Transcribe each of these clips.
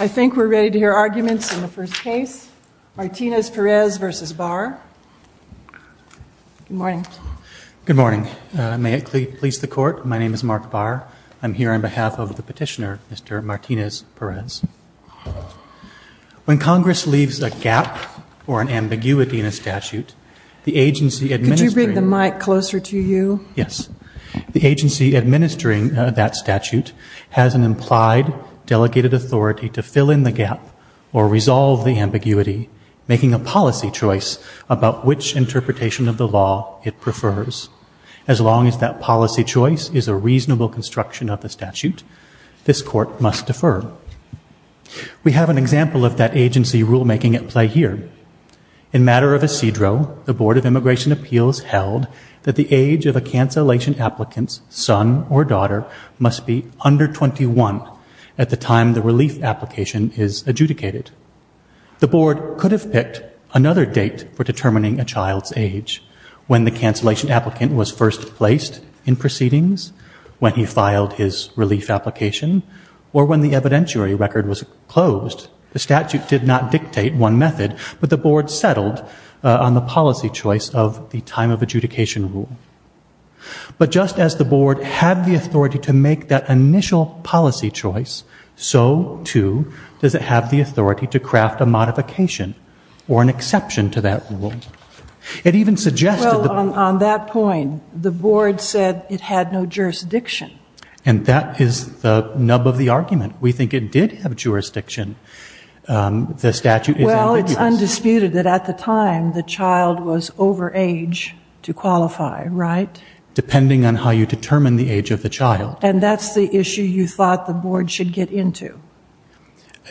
I think we're ready to hear arguments in the first case. Martinez-Perez v. Barr. Good morning. Good morning. May it please the Court, my name is Mark Barr. I'm here on behalf of the petitioner, Mr. Martinez-Perez. When Congress leaves a gap or an ambiguity in a statute, the agency administering... Could you bring the mic closer to you? Yes. The agency administering that statute has an implied delegated authority to fill in the gap or resolve the ambiguity, making a policy choice about which interpretation of the law it prefers. As long as that policy choice is a reasonable construction of the statute, this Court must defer. We have an example of that agency rulemaking at play here. In matter of Isidro, the Board of Immigration Appeals held that the age of a cancellation applicant's son or daughter must be under 21 at the time the relief application is adjudicated. The Board could have picked another date for determining a child's age. When the cancellation applicant was first placed in proceedings, when he filed his relief application, or when the evidentiary record was closed, the statute did not dictate one method, but the Board settled on the policy choice of the time of adjudication rule. But just as the Board had the authority to make that initial policy choice, so, too, does it have the authority to craft a modification or an exception to that rule. It even suggested... Well, on that point, the Board said it had no jurisdiction. And that is the nub of the argument. We think it did have jurisdiction. The statute is ambiguous. Well, it's undisputed that at the time the child was over age to qualify, right? Depending on how you determine the age of the child. And that's the issue you thought the Board should get into.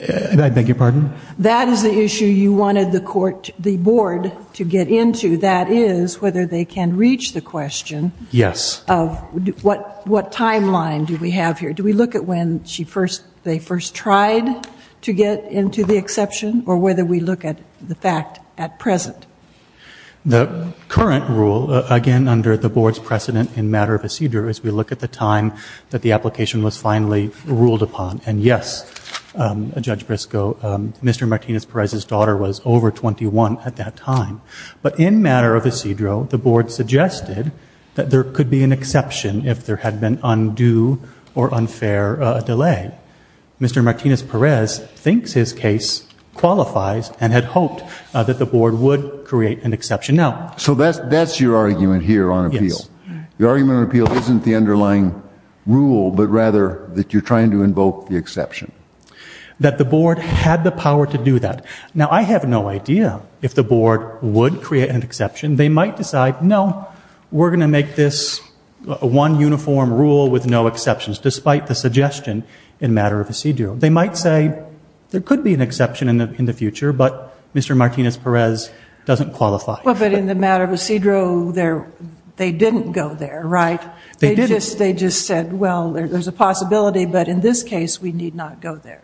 I beg your pardon? That is the issue you wanted the Board to get into. That is whether they can reach the question... Yes. ...of what timeline do we have here. Do we look at when they first tried to get into the exception, or whether we look at the fact at present? The current rule, again, under the Board's precedent in matter of Isidro, is we look at the time that the application was finally ruled upon. And, yes, Judge Briscoe, Mr. Martinez-Perez's daughter was over 21 at that time. But in matter of Isidro, the Board suggested that there could be an exception if there had been undue or unfair delay. Mr. Martinez-Perez thinks his case qualifies and had hoped that the Board would create an exception. So that's your argument here on appeal. Yes. Your argument on appeal isn't the underlying rule, but rather that you're trying to invoke the exception. That the Board had the power to do that. Now, I have no idea if the Board would create an exception. They might decide, no, we're going to make this one uniform rule with no exceptions, despite the suggestion in matter of Isidro. They might say there could be an exception in the future, but Mr. Martinez-Perez doesn't qualify. But in the matter of Isidro, they didn't go there, right? They didn't. They just said, well, there's a possibility, but in this case we need not go there.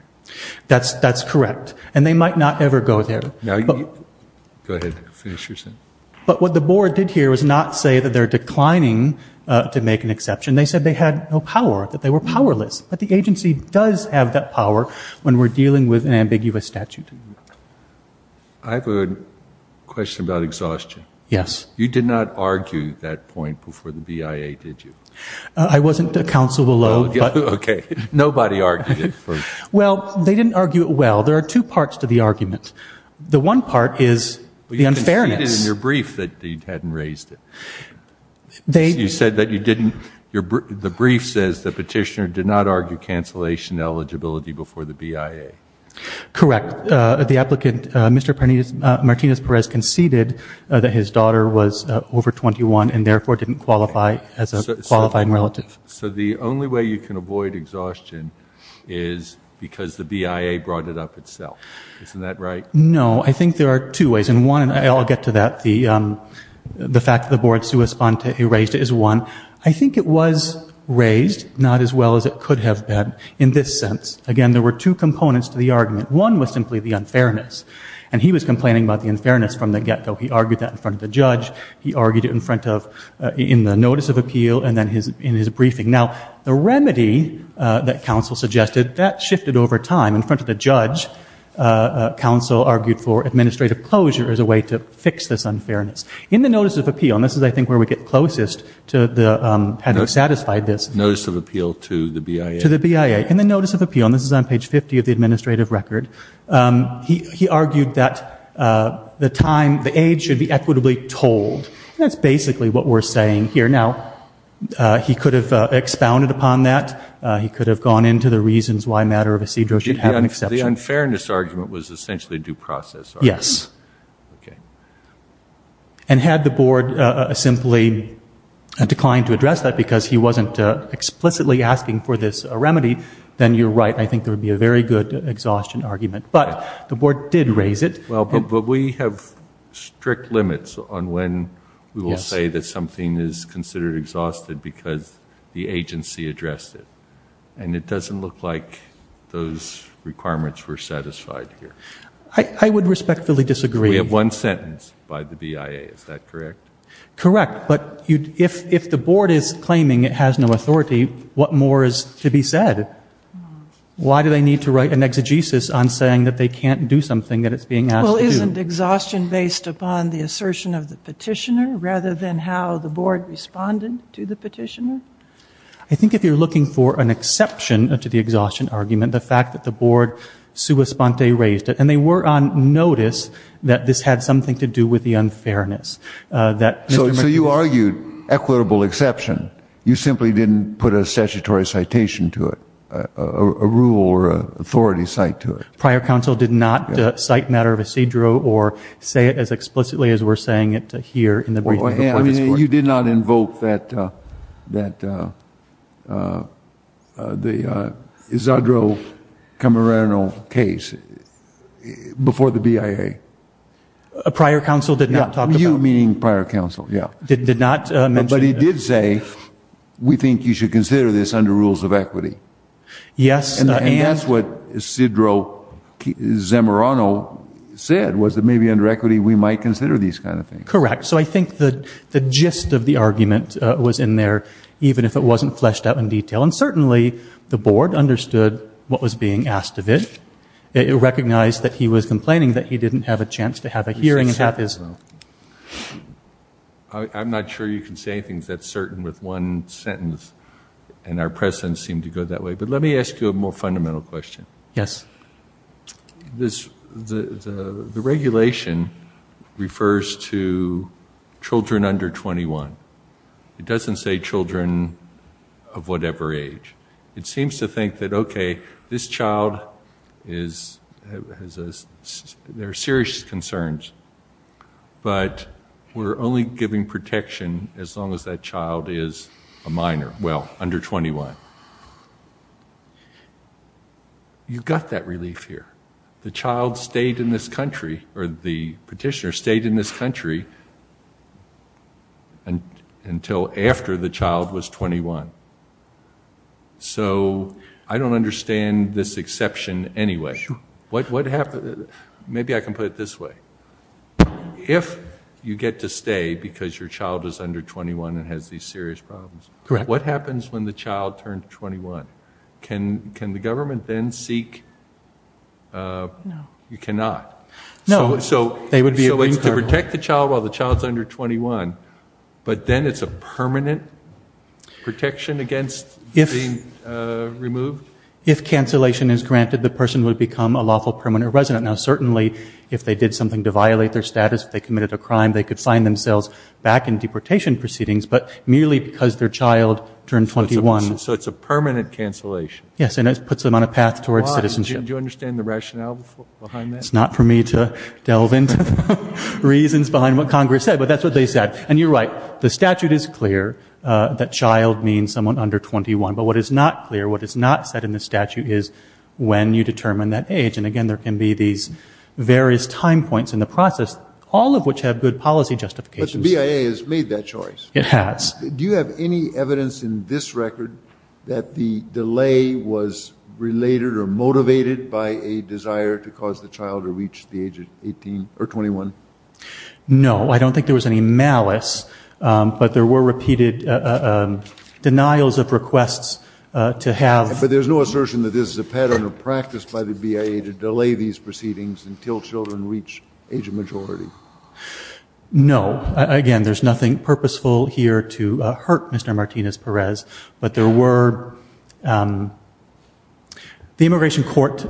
That's correct. And they might not ever go there. Go ahead. Finish your sentence. But what the Board did here was not say that they're declining to make an exception. They said they had no power, that they were powerless. But the agency does have that power when we're dealing with an ambiguous statute. I have a question about exhaustion. Yes. You did not argue that point before the BIA, did you? I wasn't counsel below. Okay. Nobody argued it first. Well, they didn't argue it well. There are two parts to the argument. The one part is the unfairness. But you conceded in your brief that you hadn't raised it. You said that you didn't. The brief says the petitioner did not argue cancellation eligibility before the BIA. Correct. The applicant, Mr. Martinez-Perez, conceded that his daughter was over 21 and therefore didn't qualify as a qualifying relative. So the only way you can avoid exhaustion is because the BIA brought it up itself. Isn't that right? No. I think there are two ways. And one, and I'll get to that, the fact that the Board sui sponte raised it is one. I think it was raised not as well as it could have been in this sense. Again, there were two components to the argument. One was simply the unfairness. And he was complaining about the unfairness from the get-go. He argued that in front of the judge. He argued it in front of, in the notice of appeal and then in his briefing. Now, the remedy that counsel suggested, that shifted over time. In front of the judge, counsel argued for administrative closure as a way to fix this unfairness. In the notice of appeal, and this is, I think, where we get closest to having satisfied this. Notice of appeal to the BIA. To the BIA. In the notice of appeal, and this is on page 50 of the administrative record, he argued that the time, the age should be equitably told. That's basically what we're saying here. Now, he could have expounded upon that. He could have gone into the reasons why a matter of a cedro should have an exception. The unfairness argument was essentially due process. Yes. Okay. And had the Board simply declined to address that because he wasn't explicitly asking for this remedy, then you're right. I think there would be a very good exhaustion argument. But the Board did raise it. Well, but we have strict limits on when we will say that something is considered exhausted because the agency addressed it. And it doesn't look like those requirements were satisfied here. I would respectfully disagree. We have one sentence by the BIA. Is that correct? Correct. But if the Board is claiming it has no authority, what more is to be said? Why do they need to write an exegesis on saying that they can't do something that it's being asked to do? Well, isn't exhaustion based upon the assertion of the petitioner rather than how the Board responded to the petitioner? I think if you're looking for an exception to the exhaustion argument, the fact that the Board sua sponte raised it, and they were on notice that this had something to do with the unfairness. So you argued equitable exception. You simply didn't put a statutory citation to it, a rule or authority cite to it. Prior counsel did not cite matter of Isidro or say it as explicitly as we're saying it here in the briefing. I mean, you did not invoke that Isidro Camarena case before the BIA. Prior counsel did not talk about it. You meaning prior counsel, yeah. Did not mention it. But he did say we think you should consider this under rules of equity. Yes. And that's what Isidro Zamorano said was that maybe under equity we might consider these kind of things. Correct. So I think the gist of the argument was in there, even if it wasn't fleshed out in detail. And certainly the Board understood what was being asked of it. It recognized that he was complaining that he didn't have a chance to have a hearing. I'm not sure you can say anything that's certain with one sentence, and our presence seemed to go that way. But let me ask you a more fundamental question. Yes. The regulation refers to children under 21. It doesn't say children of whatever age. It seems to think that, okay, this child has serious concerns, but we're only giving protection as long as that child is a minor. Well, under 21. You've got that relief here. The petitioner stayed in this country until after the child was 21. So I don't understand this exception anyway. Maybe I can put it this way. If you get to stay because your child is under 21 and has these serious problems, what happens when the child turns 21? Can the government then seek? No. You cannot. No. So they would be able to protect the child while the child is under 21, but then it's a permanent protection against being removed? If cancellation is granted, the person would become a lawful permanent resident. Now, certainly if they did something to violate their status, if they committed a crime, they could sign themselves back in deportation proceedings, but merely because their child turned 21. So it's a permanent cancellation. Yes, and it puts them on a path towards citizenship. Do you understand the rationale behind that? It's not for me to delve into the reasons behind what Congress said, but that's what they said. And you're right. The statute is clear that child means someone under 21, but what is not clear, what is not said in the statute is when you determine that age. And, again, there can be these various time points in the process, all of which have good policy justifications. But the BIA has made that choice. It has. Do you have any evidence in this record that the delay was related or motivated by a desire to cause the child to reach the age of 18 or 21? No. I don't think there was any malice, but there were repeated denials of requests to have. But there's no assertion that this is a pattern of practice by the BIA to delay these proceedings until children reach age of majority? No. Again, there's nothing purposeful here to hurt Mr. Martinez-Perez, but there were the immigration court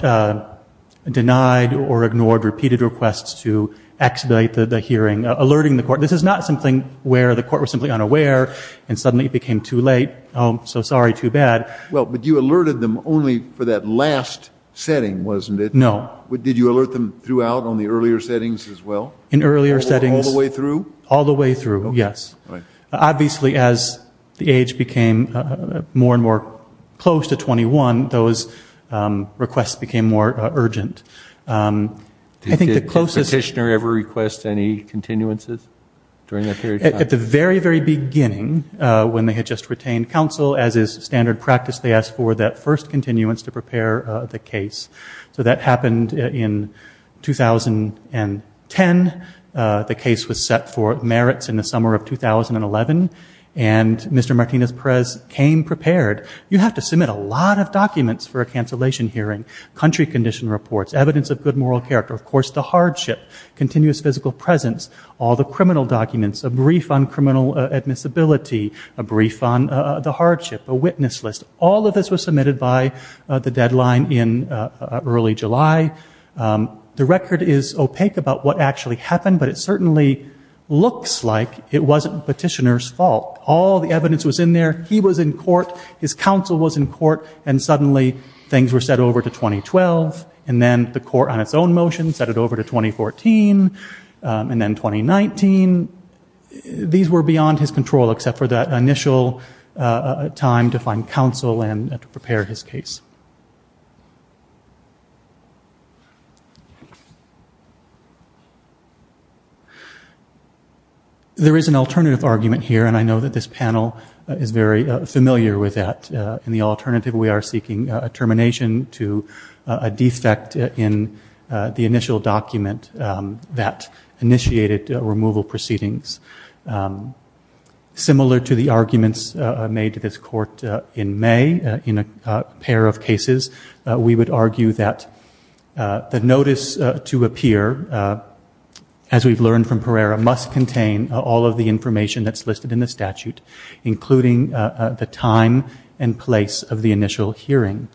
denied or ignored repeated requests to expedite the hearing, alerting the court. This is not something where the court was simply unaware and suddenly it became too late, oh, so sorry, too bad. Well, but you alerted them only for that last setting, wasn't it? No. Did you alert them throughout on the earlier settings as well? In earlier settings. All the way through? All the way through, yes. Obviously, as the age became more and more close to 21, those requests became more urgent. Did the petitioner ever request any continuances during that period of time? At the very, very beginning, when they had just retained counsel, as is standard practice, they asked for that first continuance to prepare the case. So that happened in 2010. The case was set for merits in the summer of 2011, and Mr. Martinez-Perez came prepared. You have to submit a lot of documents for a cancellation hearing, country condition reports, evidence of good moral character, of course the hardship, continuous physical presence, all the criminal documents, a brief on criminal admissibility, a brief on the hardship, a witness list. All of this was submitted by the deadline in early July. The record is opaque about what actually happened, but it certainly looks like it wasn't petitioner's fault. All the evidence was in there. He was in court. His counsel was in court. And suddenly things were set over to 2012, and then the court on its own motion set it over to 2014, and then 2019. These were beyond his control except for that initial time to find counsel and to prepare his case. There is an alternative argument here, and I know that this panel is very familiar with that. In the alternative, we are seeking a termination to a defect in the initial document that initiated removal proceedings. Similar to the arguments made to this court in May, in a pair of cases, we would argue that the notice to appear, as we've learned from Pereira, must contain all of the information that's listed in the statute, including the time and place of the initial hearing.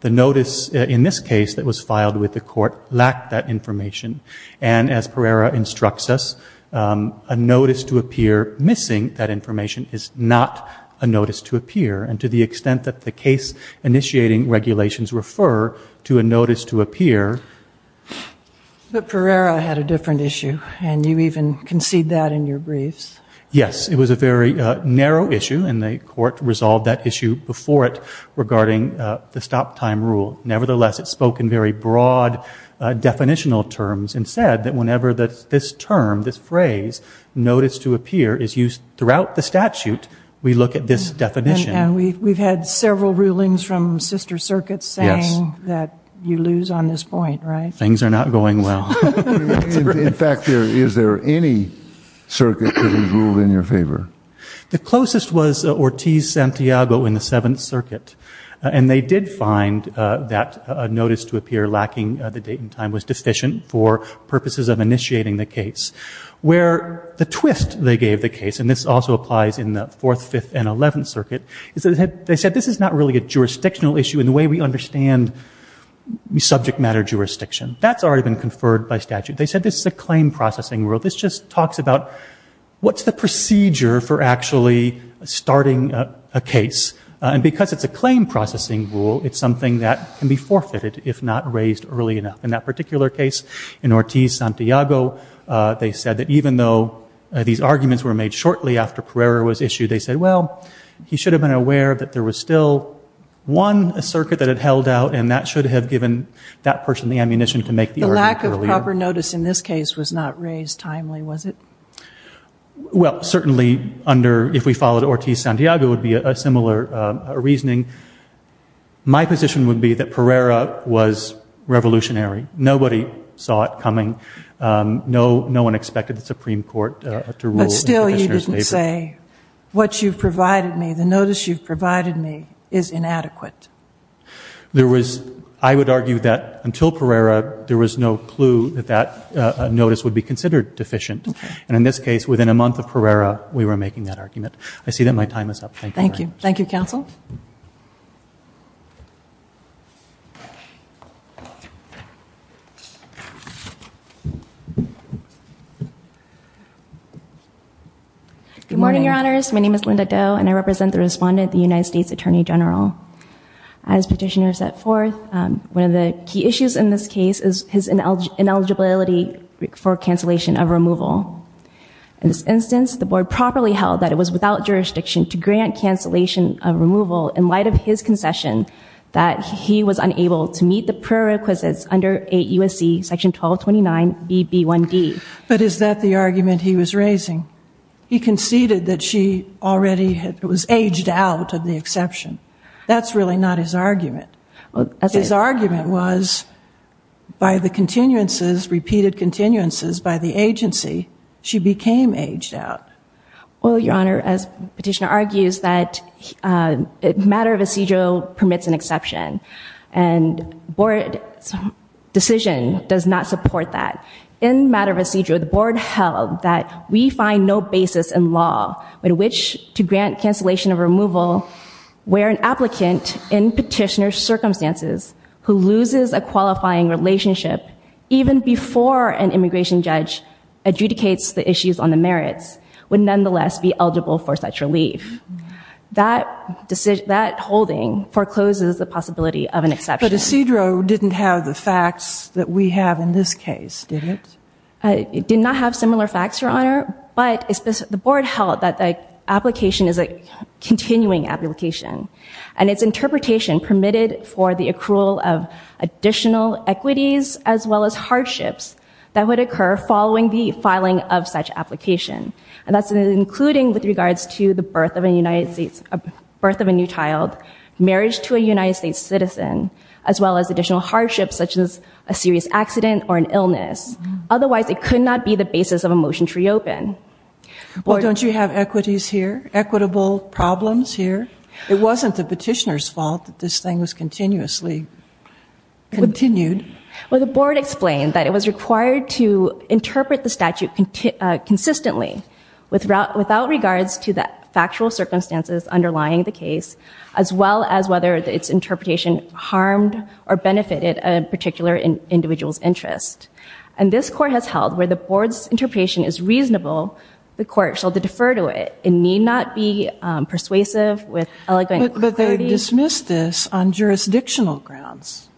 The notice in this case that was filed with the court lacked that information, and as Pereira instructs us, a notice to appear missing that information is not a notice to appear, and to the extent that the case-initiating regulations refer to a notice to appear... But Pereira had a different issue, and you even concede that in your briefs. Yes, it was a very narrow issue, and the court resolved that issue before it regarding the stop-time rule. Nevertheless, it spoke in very broad definitional terms and said that whenever this term, this phrase, notice to appear is used throughout the statute, we look at this definition. And we've had several rulings from sister circuits saying that you lose on this point, right? Things are not going well. In fact, is there any circuit that has ruled in your favor? The closest was Ortiz-Santiago in the 7th Circuit, and they did find that a notice to appear lacking the date and time was deficient for purposes of initiating the case. Where the twist they gave the case, and this also applies in the 4th, 5th, and 11th Circuit, is that they said this is not really a jurisdictional issue in the way we understand subject matter jurisdiction. That's already been conferred by statute. They said this is a claim-processing rule. This just talks about what's the procedure for actually starting a case? And because it's a claim-processing rule, it's something that can be forfeited if not raised early enough. In that particular case, in Ortiz-Santiago, they said that even though these arguments were made shortly after Pereira was issued, they said, well, he should have been aware that there was still one circuit that had held out, and that should have given that person the ammunition to make the argument earlier. The lack of proper notice in this case was not raised timely, was it? Well, certainly, if we followed Ortiz-Santiago, it would be a similar reasoning. My position would be that Pereira was revolutionary. Nobody saw it coming. What you've provided me, the notice you've provided me, is inadequate. I would argue that until Pereira, there was no clue that that notice would be considered deficient. And in this case, within a month of Pereira, we were making that argument. I see that my time is up. Thank you. Thank you, Counsel. Good morning, Your Honors. My name is Linda Doe, and I represent the respondent, the United States Attorney General. As Petitioner set forth, one of the key issues in this case is his ineligibility for cancellation of removal. In this instance, the Board properly held that it was without jurisdiction to grant cancellation of removal in light of his concession that he was unable to meet the prerequisites under 8 U.S.C. section 1229BB1D. But is that the argument he was raising? He conceded that she already was aged out of the exception. That's really not his argument. His argument was, by the continuances, repeated continuances, by the agency, she became aged out. Well, Your Honor, as Petitioner argues, that matter of procedural permits an exception. And the Board's decision does not support that. In matter of procedural, the Board held that we find no basis in law in which to grant cancellation of removal where an applicant, in Petitioner's circumstances, who loses a qualifying relationship even before an immigration judge adjudicates the issues on the merits, would nonetheless be eligible for such relief. That holding forecloses the possibility of an exception. But Isidro didn't have the facts that we have in this case, did it? I did not have similar facts, Your Honor. But the Board held that the application is a continuing application. And its interpretation permitted for the accrual of additional equities as well as hardships that would occur following the filing of such application. And that's including with regards to the birth of a new child, marriage to a United States citizen, as well as additional hardships such as a serious accident or an illness. Otherwise, it could not be the basis of a motion to reopen. Well, don't you have equities here? Equitable problems here? It wasn't the Petitioner's fault that this thing was continuously continued. Well, the Board explained that it was required to interpret the statute consistently without regards to the factual circumstances underlying the case as well as whether its interpretation harmed or benefited a particular individual's interest. And this Court has held where the Board's interpretation is reasonable, the Court shall defer to it and need not be persuasive with eloquent clarity. But they dismissed this on jurisdictional grounds.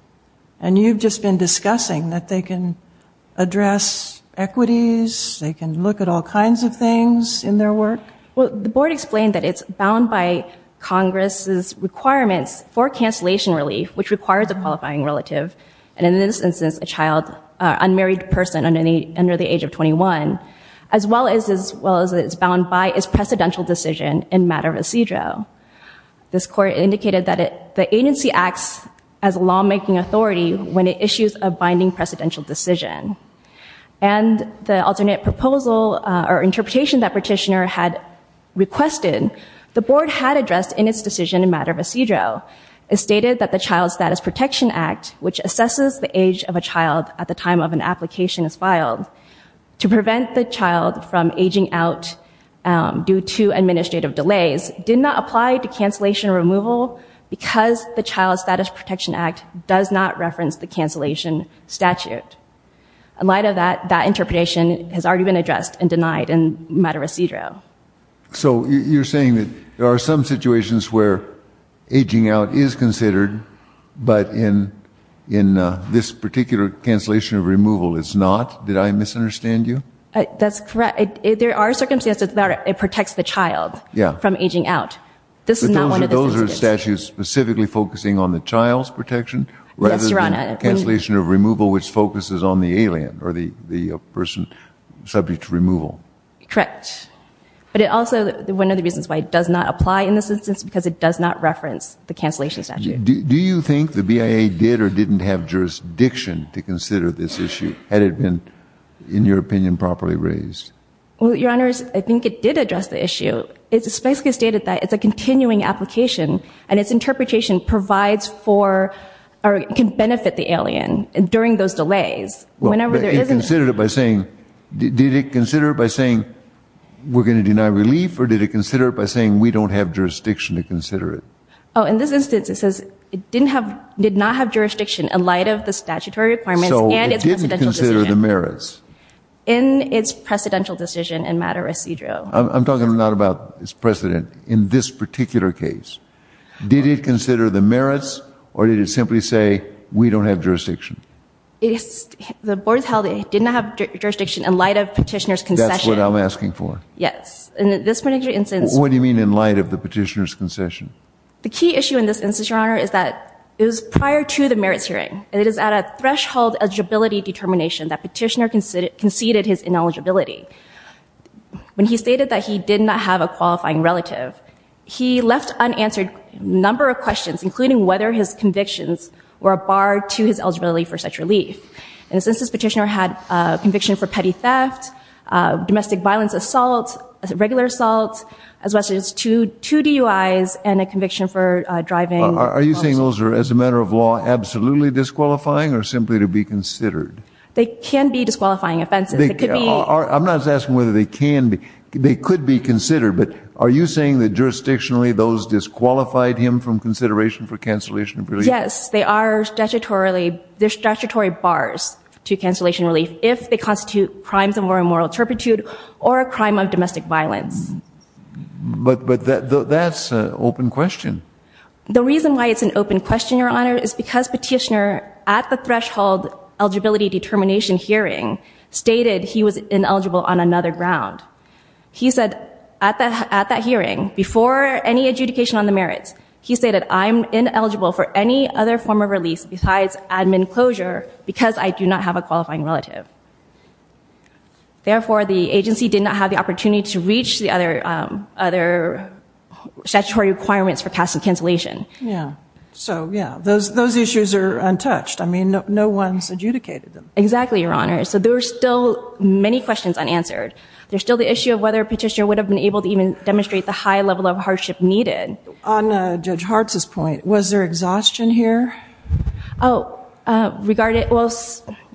And you've just been discussing that they can address equities, they can look at all kinds of things in their work. Well, the Board explained that it's bound by Congress's requirements for cancellation relief, which requires a qualifying relative, and in this instance, a child, an unmarried person under the age of 21, as well as it's bound by its precedential decision in matter residuo. This Court indicated that the agency acts as a lawmaking authority when it issues a binding precedential decision. And the alternate proposal or interpretation that Petitioner had requested, the Board had addressed in its decision in matter residuo. It stated that the Child Status Protection Act, which assesses the age of a child at the time of an application is filed, to prevent the child from aging out due to administrative delays, did not apply to cancellation removal because the Child Status Protection Act does not reference the cancellation statute. In light of that, that interpretation has already been addressed and denied in matter residuo. So you're saying that there are some situations where aging out is considered, but in this particular cancellation removal, it's not? Did I misunderstand you? That's correct. There are circumstances where it protects the child from aging out. But those are statutes specifically focusing on the child's protection? Yes, Your Honor. Rather than cancellation removal, which focuses on the alien, or the person subject to removal? Correct. But also, one of the reasons why it does not apply in this instance is because it does not reference the cancellation statute. Do you think the BIA did or didn't have jurisdiction to consider this issue, had it been, in your opinion, properly raised? Well, Your Honor, I think it did address the issue. It basically stated that it's a continuing application, and its interpretation provides for or can benefit the alien during those delays. It considered it by saying, did it consider it by saying we're going to deny relief, or did it consider it by saying we don't have jurisdiction to consider it? In this instance, it says it did not have jurisdiction in light of the statutory requirements and its precedential decision. So it didn't consider the merits? In its precedential decision in matter residuo. I'm talking not about its precedent. In this particular case, did it consider the merits, or did it simply say we don't have jurisdiction? The board held it didn't have jurisdiction in light of petitioner's concession. That's what I'm asking for. Yes. In this particular instance. What do you mean in light of the petitioner's concession? The key issue in this instance, Your Honor, is that it was prior to the merits hearing, and it is at a threshold eligibility determination that petitioner conceded his ineligibility. When he stated that he did not have a qualifying relative, he left unanswered a number of questions, including whether his convictions were a bar to his eligibility for such relief. In this instance, petitioner had a conviction for petty theft, domestic violence assault, regular assault, as well as two DUIs, and a conviction for driving. Are you saying those are, as a matter of law, absolutely disqualifying, or simply to be considered? They can be disqualifying offenses. I'm not asking whether they can be. They could be considered. But are you saying that, jurisdictionally, those disqualified him from consideration for cancellation of relief? Yes, they are statutory bars to cancellation of relief if they constitute crimes of moral turpitude or a crime of domestic violence. But that's an open question. The reason why it's an open question, Your Honor, is because petitioner, at the threshold eligibility determination hearing, stated he was ineligible on another ground. He said, at that hearing, before any adjudication on the merits, he stated, I'm ineligible for any other form of release besides admin closure because I do not have a qualifying relative. Therefore, the agency did not have the opportunity to reach the other statutory requirements for passing cancellation. Yeah. So, yeah, those issues are untouched. I mean, no one's adjudicated them. Exactly, Your Honor. So there are still many questions unanswered. There's still the issue of whether a petitioner would have been able to even demonstrate the high level of hardship needed. On Judge Hartz's point, was there exhaustion here? Oh, regarding, well,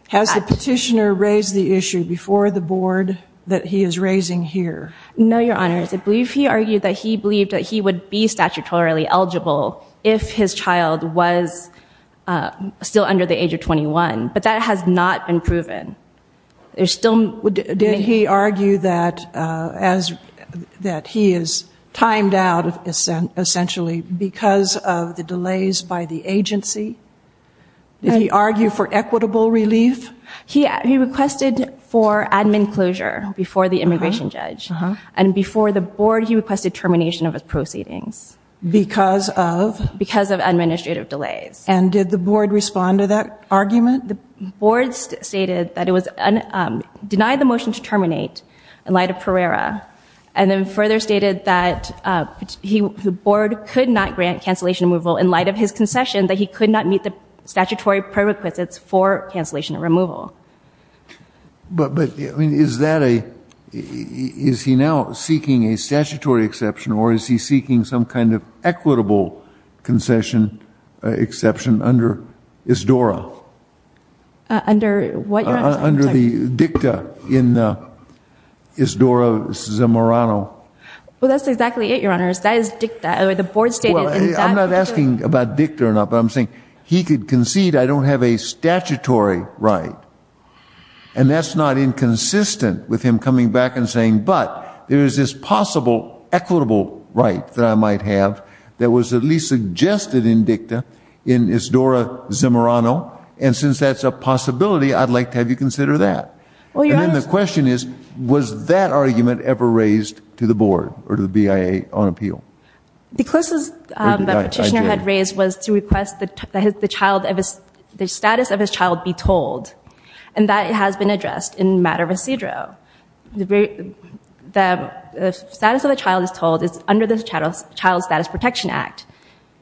Has the petitioner raised the issue before the board that he is raising here? No, Your Honor. I believe he argued that he believed that he would be statutorily eligible if his child was still under the age of 21. But that has not been proven. Did he argue that he is timed out, essentially, because of the delays by the agency? Did he argue for equitable relief? He requested for admin closure before the immigration judge. And before the board, he requested termination of his proceedings. Because of? Because of administrative delays. And did the board respond to that argument? The board stated that it was denied the motion to terminate in light of Pereira. And then further stated that the board could not grant cancellation removal in light of his concession, that he could not meet the statutory prerequisites for cancellation and removal. But is that a, is he now seeking a statutory exception, or is he seeking some kind of equitable concession exception under ISDORA? Under what, Your Honor? Under the DICTA in ISDORA Zamorano. Well, that's exactly it, Your Honor. That is DICTA. The board stated that. Well, I'm not asking about DICTA or not, but I'm saying he could concede I don't have a statutory right. And that's not inconsistent with him coming back and saying, but there is this possible equitable right that I might have that was at least suggested in DICTA in ISDORA Zamorano. And since that's a possibility, I'd like to have you consider that. And then the question is, was that argument ever raised to the board or to the BIA on appeal? The closest the petitioner had raised was to request that the child, the status of his child be told. And that has been addressed in matter of Isidro. The status of the child is told is under the Child Status Protection Act.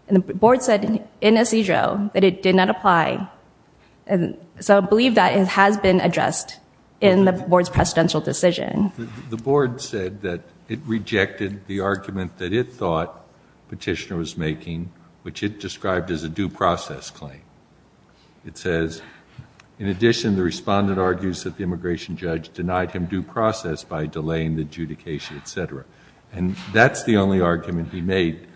And the board said in Isidro that it did not apply. So I believe that has been addressed in the board's precedential decision. The board said that it rejected the argument that it thought the petitioner was making, which it described as a due process claim. It says, in addition, the respondent argues that the immigration judge denied him due process by delaying the adjudication, et cetera. And that's the only argument he made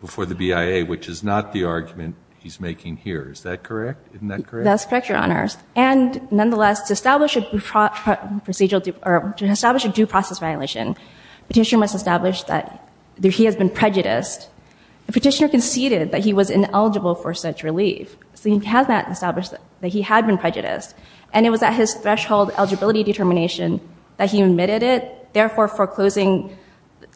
before the BIA, which is not the argument he's making here. Is that correct? Isn't that correct? That's correct, Your Honors. And nonetheless, to establish a due process violation, the petitioner must establish that he has been prejudiced. The petitioner conceded that he was ineligible for such relief. So he has not established that he had been prejudiced. And it was at his threshold eligibility determination that he admitted it, therefore foreclosing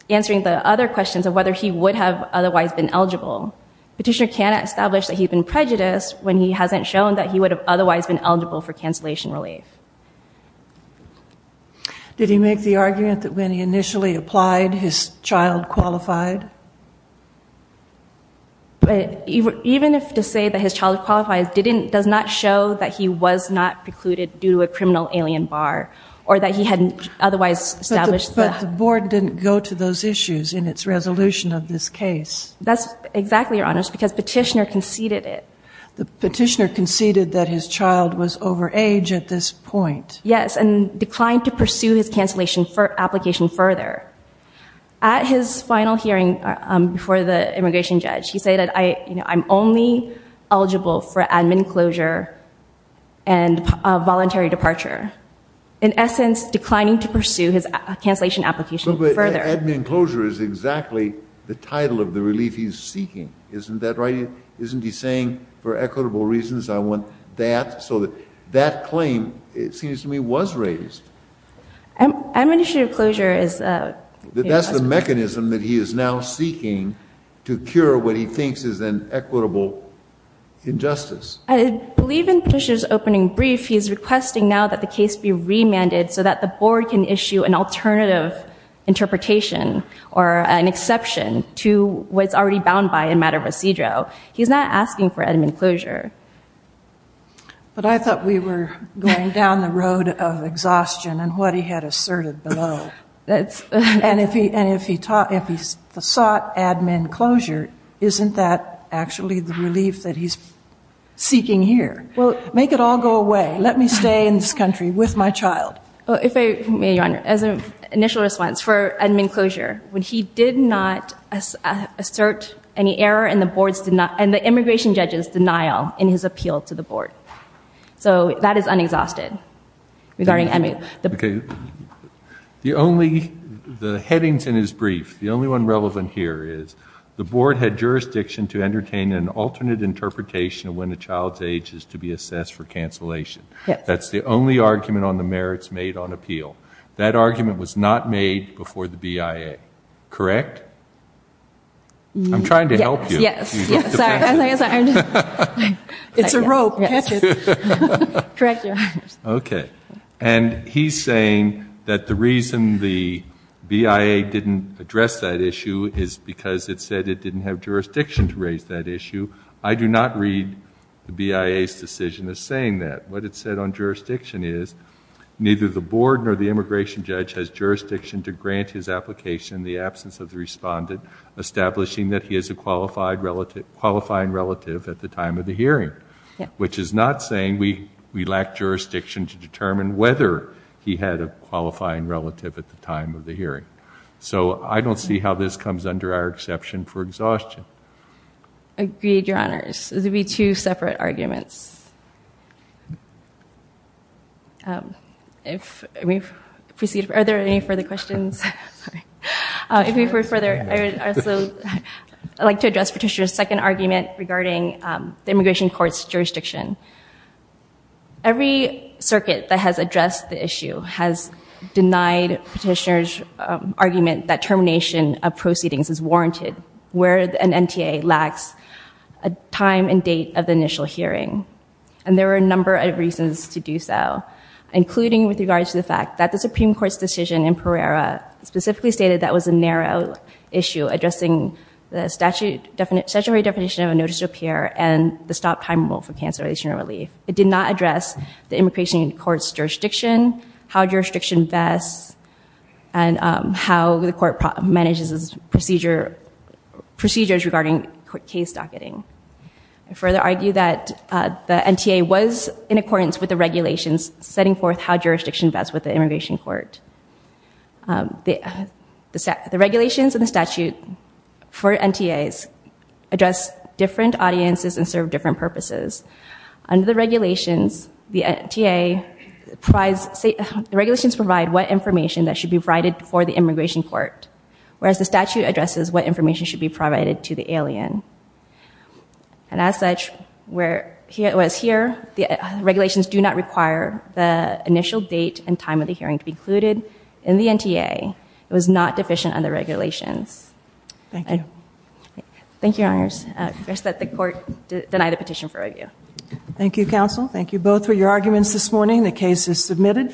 answering the other questions of whether he would have otherwise been eligible. Petitioner cannot establish that he's been prejudiced when he hasn't shown that he would have otherwise been eligible for cancellation relief. Did he make the argument that when he initially applied, his child qualified? Even if to say that his child qualified does not show that he was not precluded due to a criminal alien bar or that he hadn't otherwise established that. But the board didn't go to those issues in its resolution of this case. That's exactly, Your Honors, because petitioner conceded it. The petitioner conceded that his child was over age at this point. Yes, and declined to pursue his cancellation application further. At his final hearing before the immigration judge, he said, I'm only eligible for admin closure and voluntary departure. In essence, declining to pursue his cancellation application further. But admin closure is exactly the title of the relief he's seeking. Isn't that right? Isn't he saying, for equitable reasons, I want that? So that claim, it seems to me, was raised. Administrative closure is a... That's the mechanism that he is now seeking to cure what he thinks is an equitable injustice. I believe in petitioner's opening brief, he's requesting now that the case be remanded so that the board can issue an alternative interpretation or an exception to what's already bound by a matter of recedro. He's not asking for admin closure. But I thought we were going down the road of exhaustion and what he had asserted below. And if he sought admin closure, isn't that actually the relief that he's seeking here? Make it all go away. Let me stay in this country with my child. As an initial response, for admin closure, when he did not assert any error and the immigration judge's denial in his appeal to the board. So that is unexhausted. Okay. The headings in his brief, the only one relevant here is, the board had jurisdiction to entertain an alternate interpretation of when a child's age is to be assessed for cancellation. That's the only argument on the merits made on appeal. That argument was not made before the BIA. Correct? I'm trying to help you. Yes. Sorry. It's a rope. Correct your honors. Okay. And he's saying that the reason the BIA didn't address that issue is because it said it didn't have jurisdiction to raise that issue. I do not read the BIA's decision as saying that. What it said on jurisdiction is, neither the board nor the immigration judge has jurisdiction to grant his application in the absence of the respondent, establishing that he is a qualifying relative at the time of the hearing. Which is not saying we lack jurisdiction to determine whether he had a qualifying relative at the time of the hearing. So I don't see how this comes under our exception for exhaustion. Agreed, your honors. Those would be two separate arguments. If we proceed, are there any further questions? If we go further, I would also like to address Petitioner's second argument regarding the immigration court's jurisdiction. Every circuit that has addressed the issue has denied Petitioner's argument that termination of proceedings is warranted. Where an NTA lacks a time and date of the initial hearing. And there are a number of reasons to do so. Including with regards to the fact that the Supreme Court's decision in Pereira specifically stated that was a narrow issue, addressing the statutory definition of a notice to appear and the stop time rule for cancellation or relief. It did not address the immigration court's jurisdiction, how jurisdiction vests, and how the court manages procedures regarding case docketing. I further argue that the NTA was in accordance with the regulations setting forth how jurisdiction vests with the immigration court. The regulations and the statute for NTAs address different audiences and serve different purposes. Under the regulations, the NTA provides, the regulations provide what information that should be provided for the immigration court. Whereas the statute addresses what information should be provided to the alien. And as such, where it was here, the regulations do not require the initial date and time of the hearing to be included in the NTA. It was not deficient under regulations. Thank you. Thank you, Your Honors. I request that the court deny the petition for review. Thank you, Counsel. Thank you both for your arguments this morning. The case is submitted.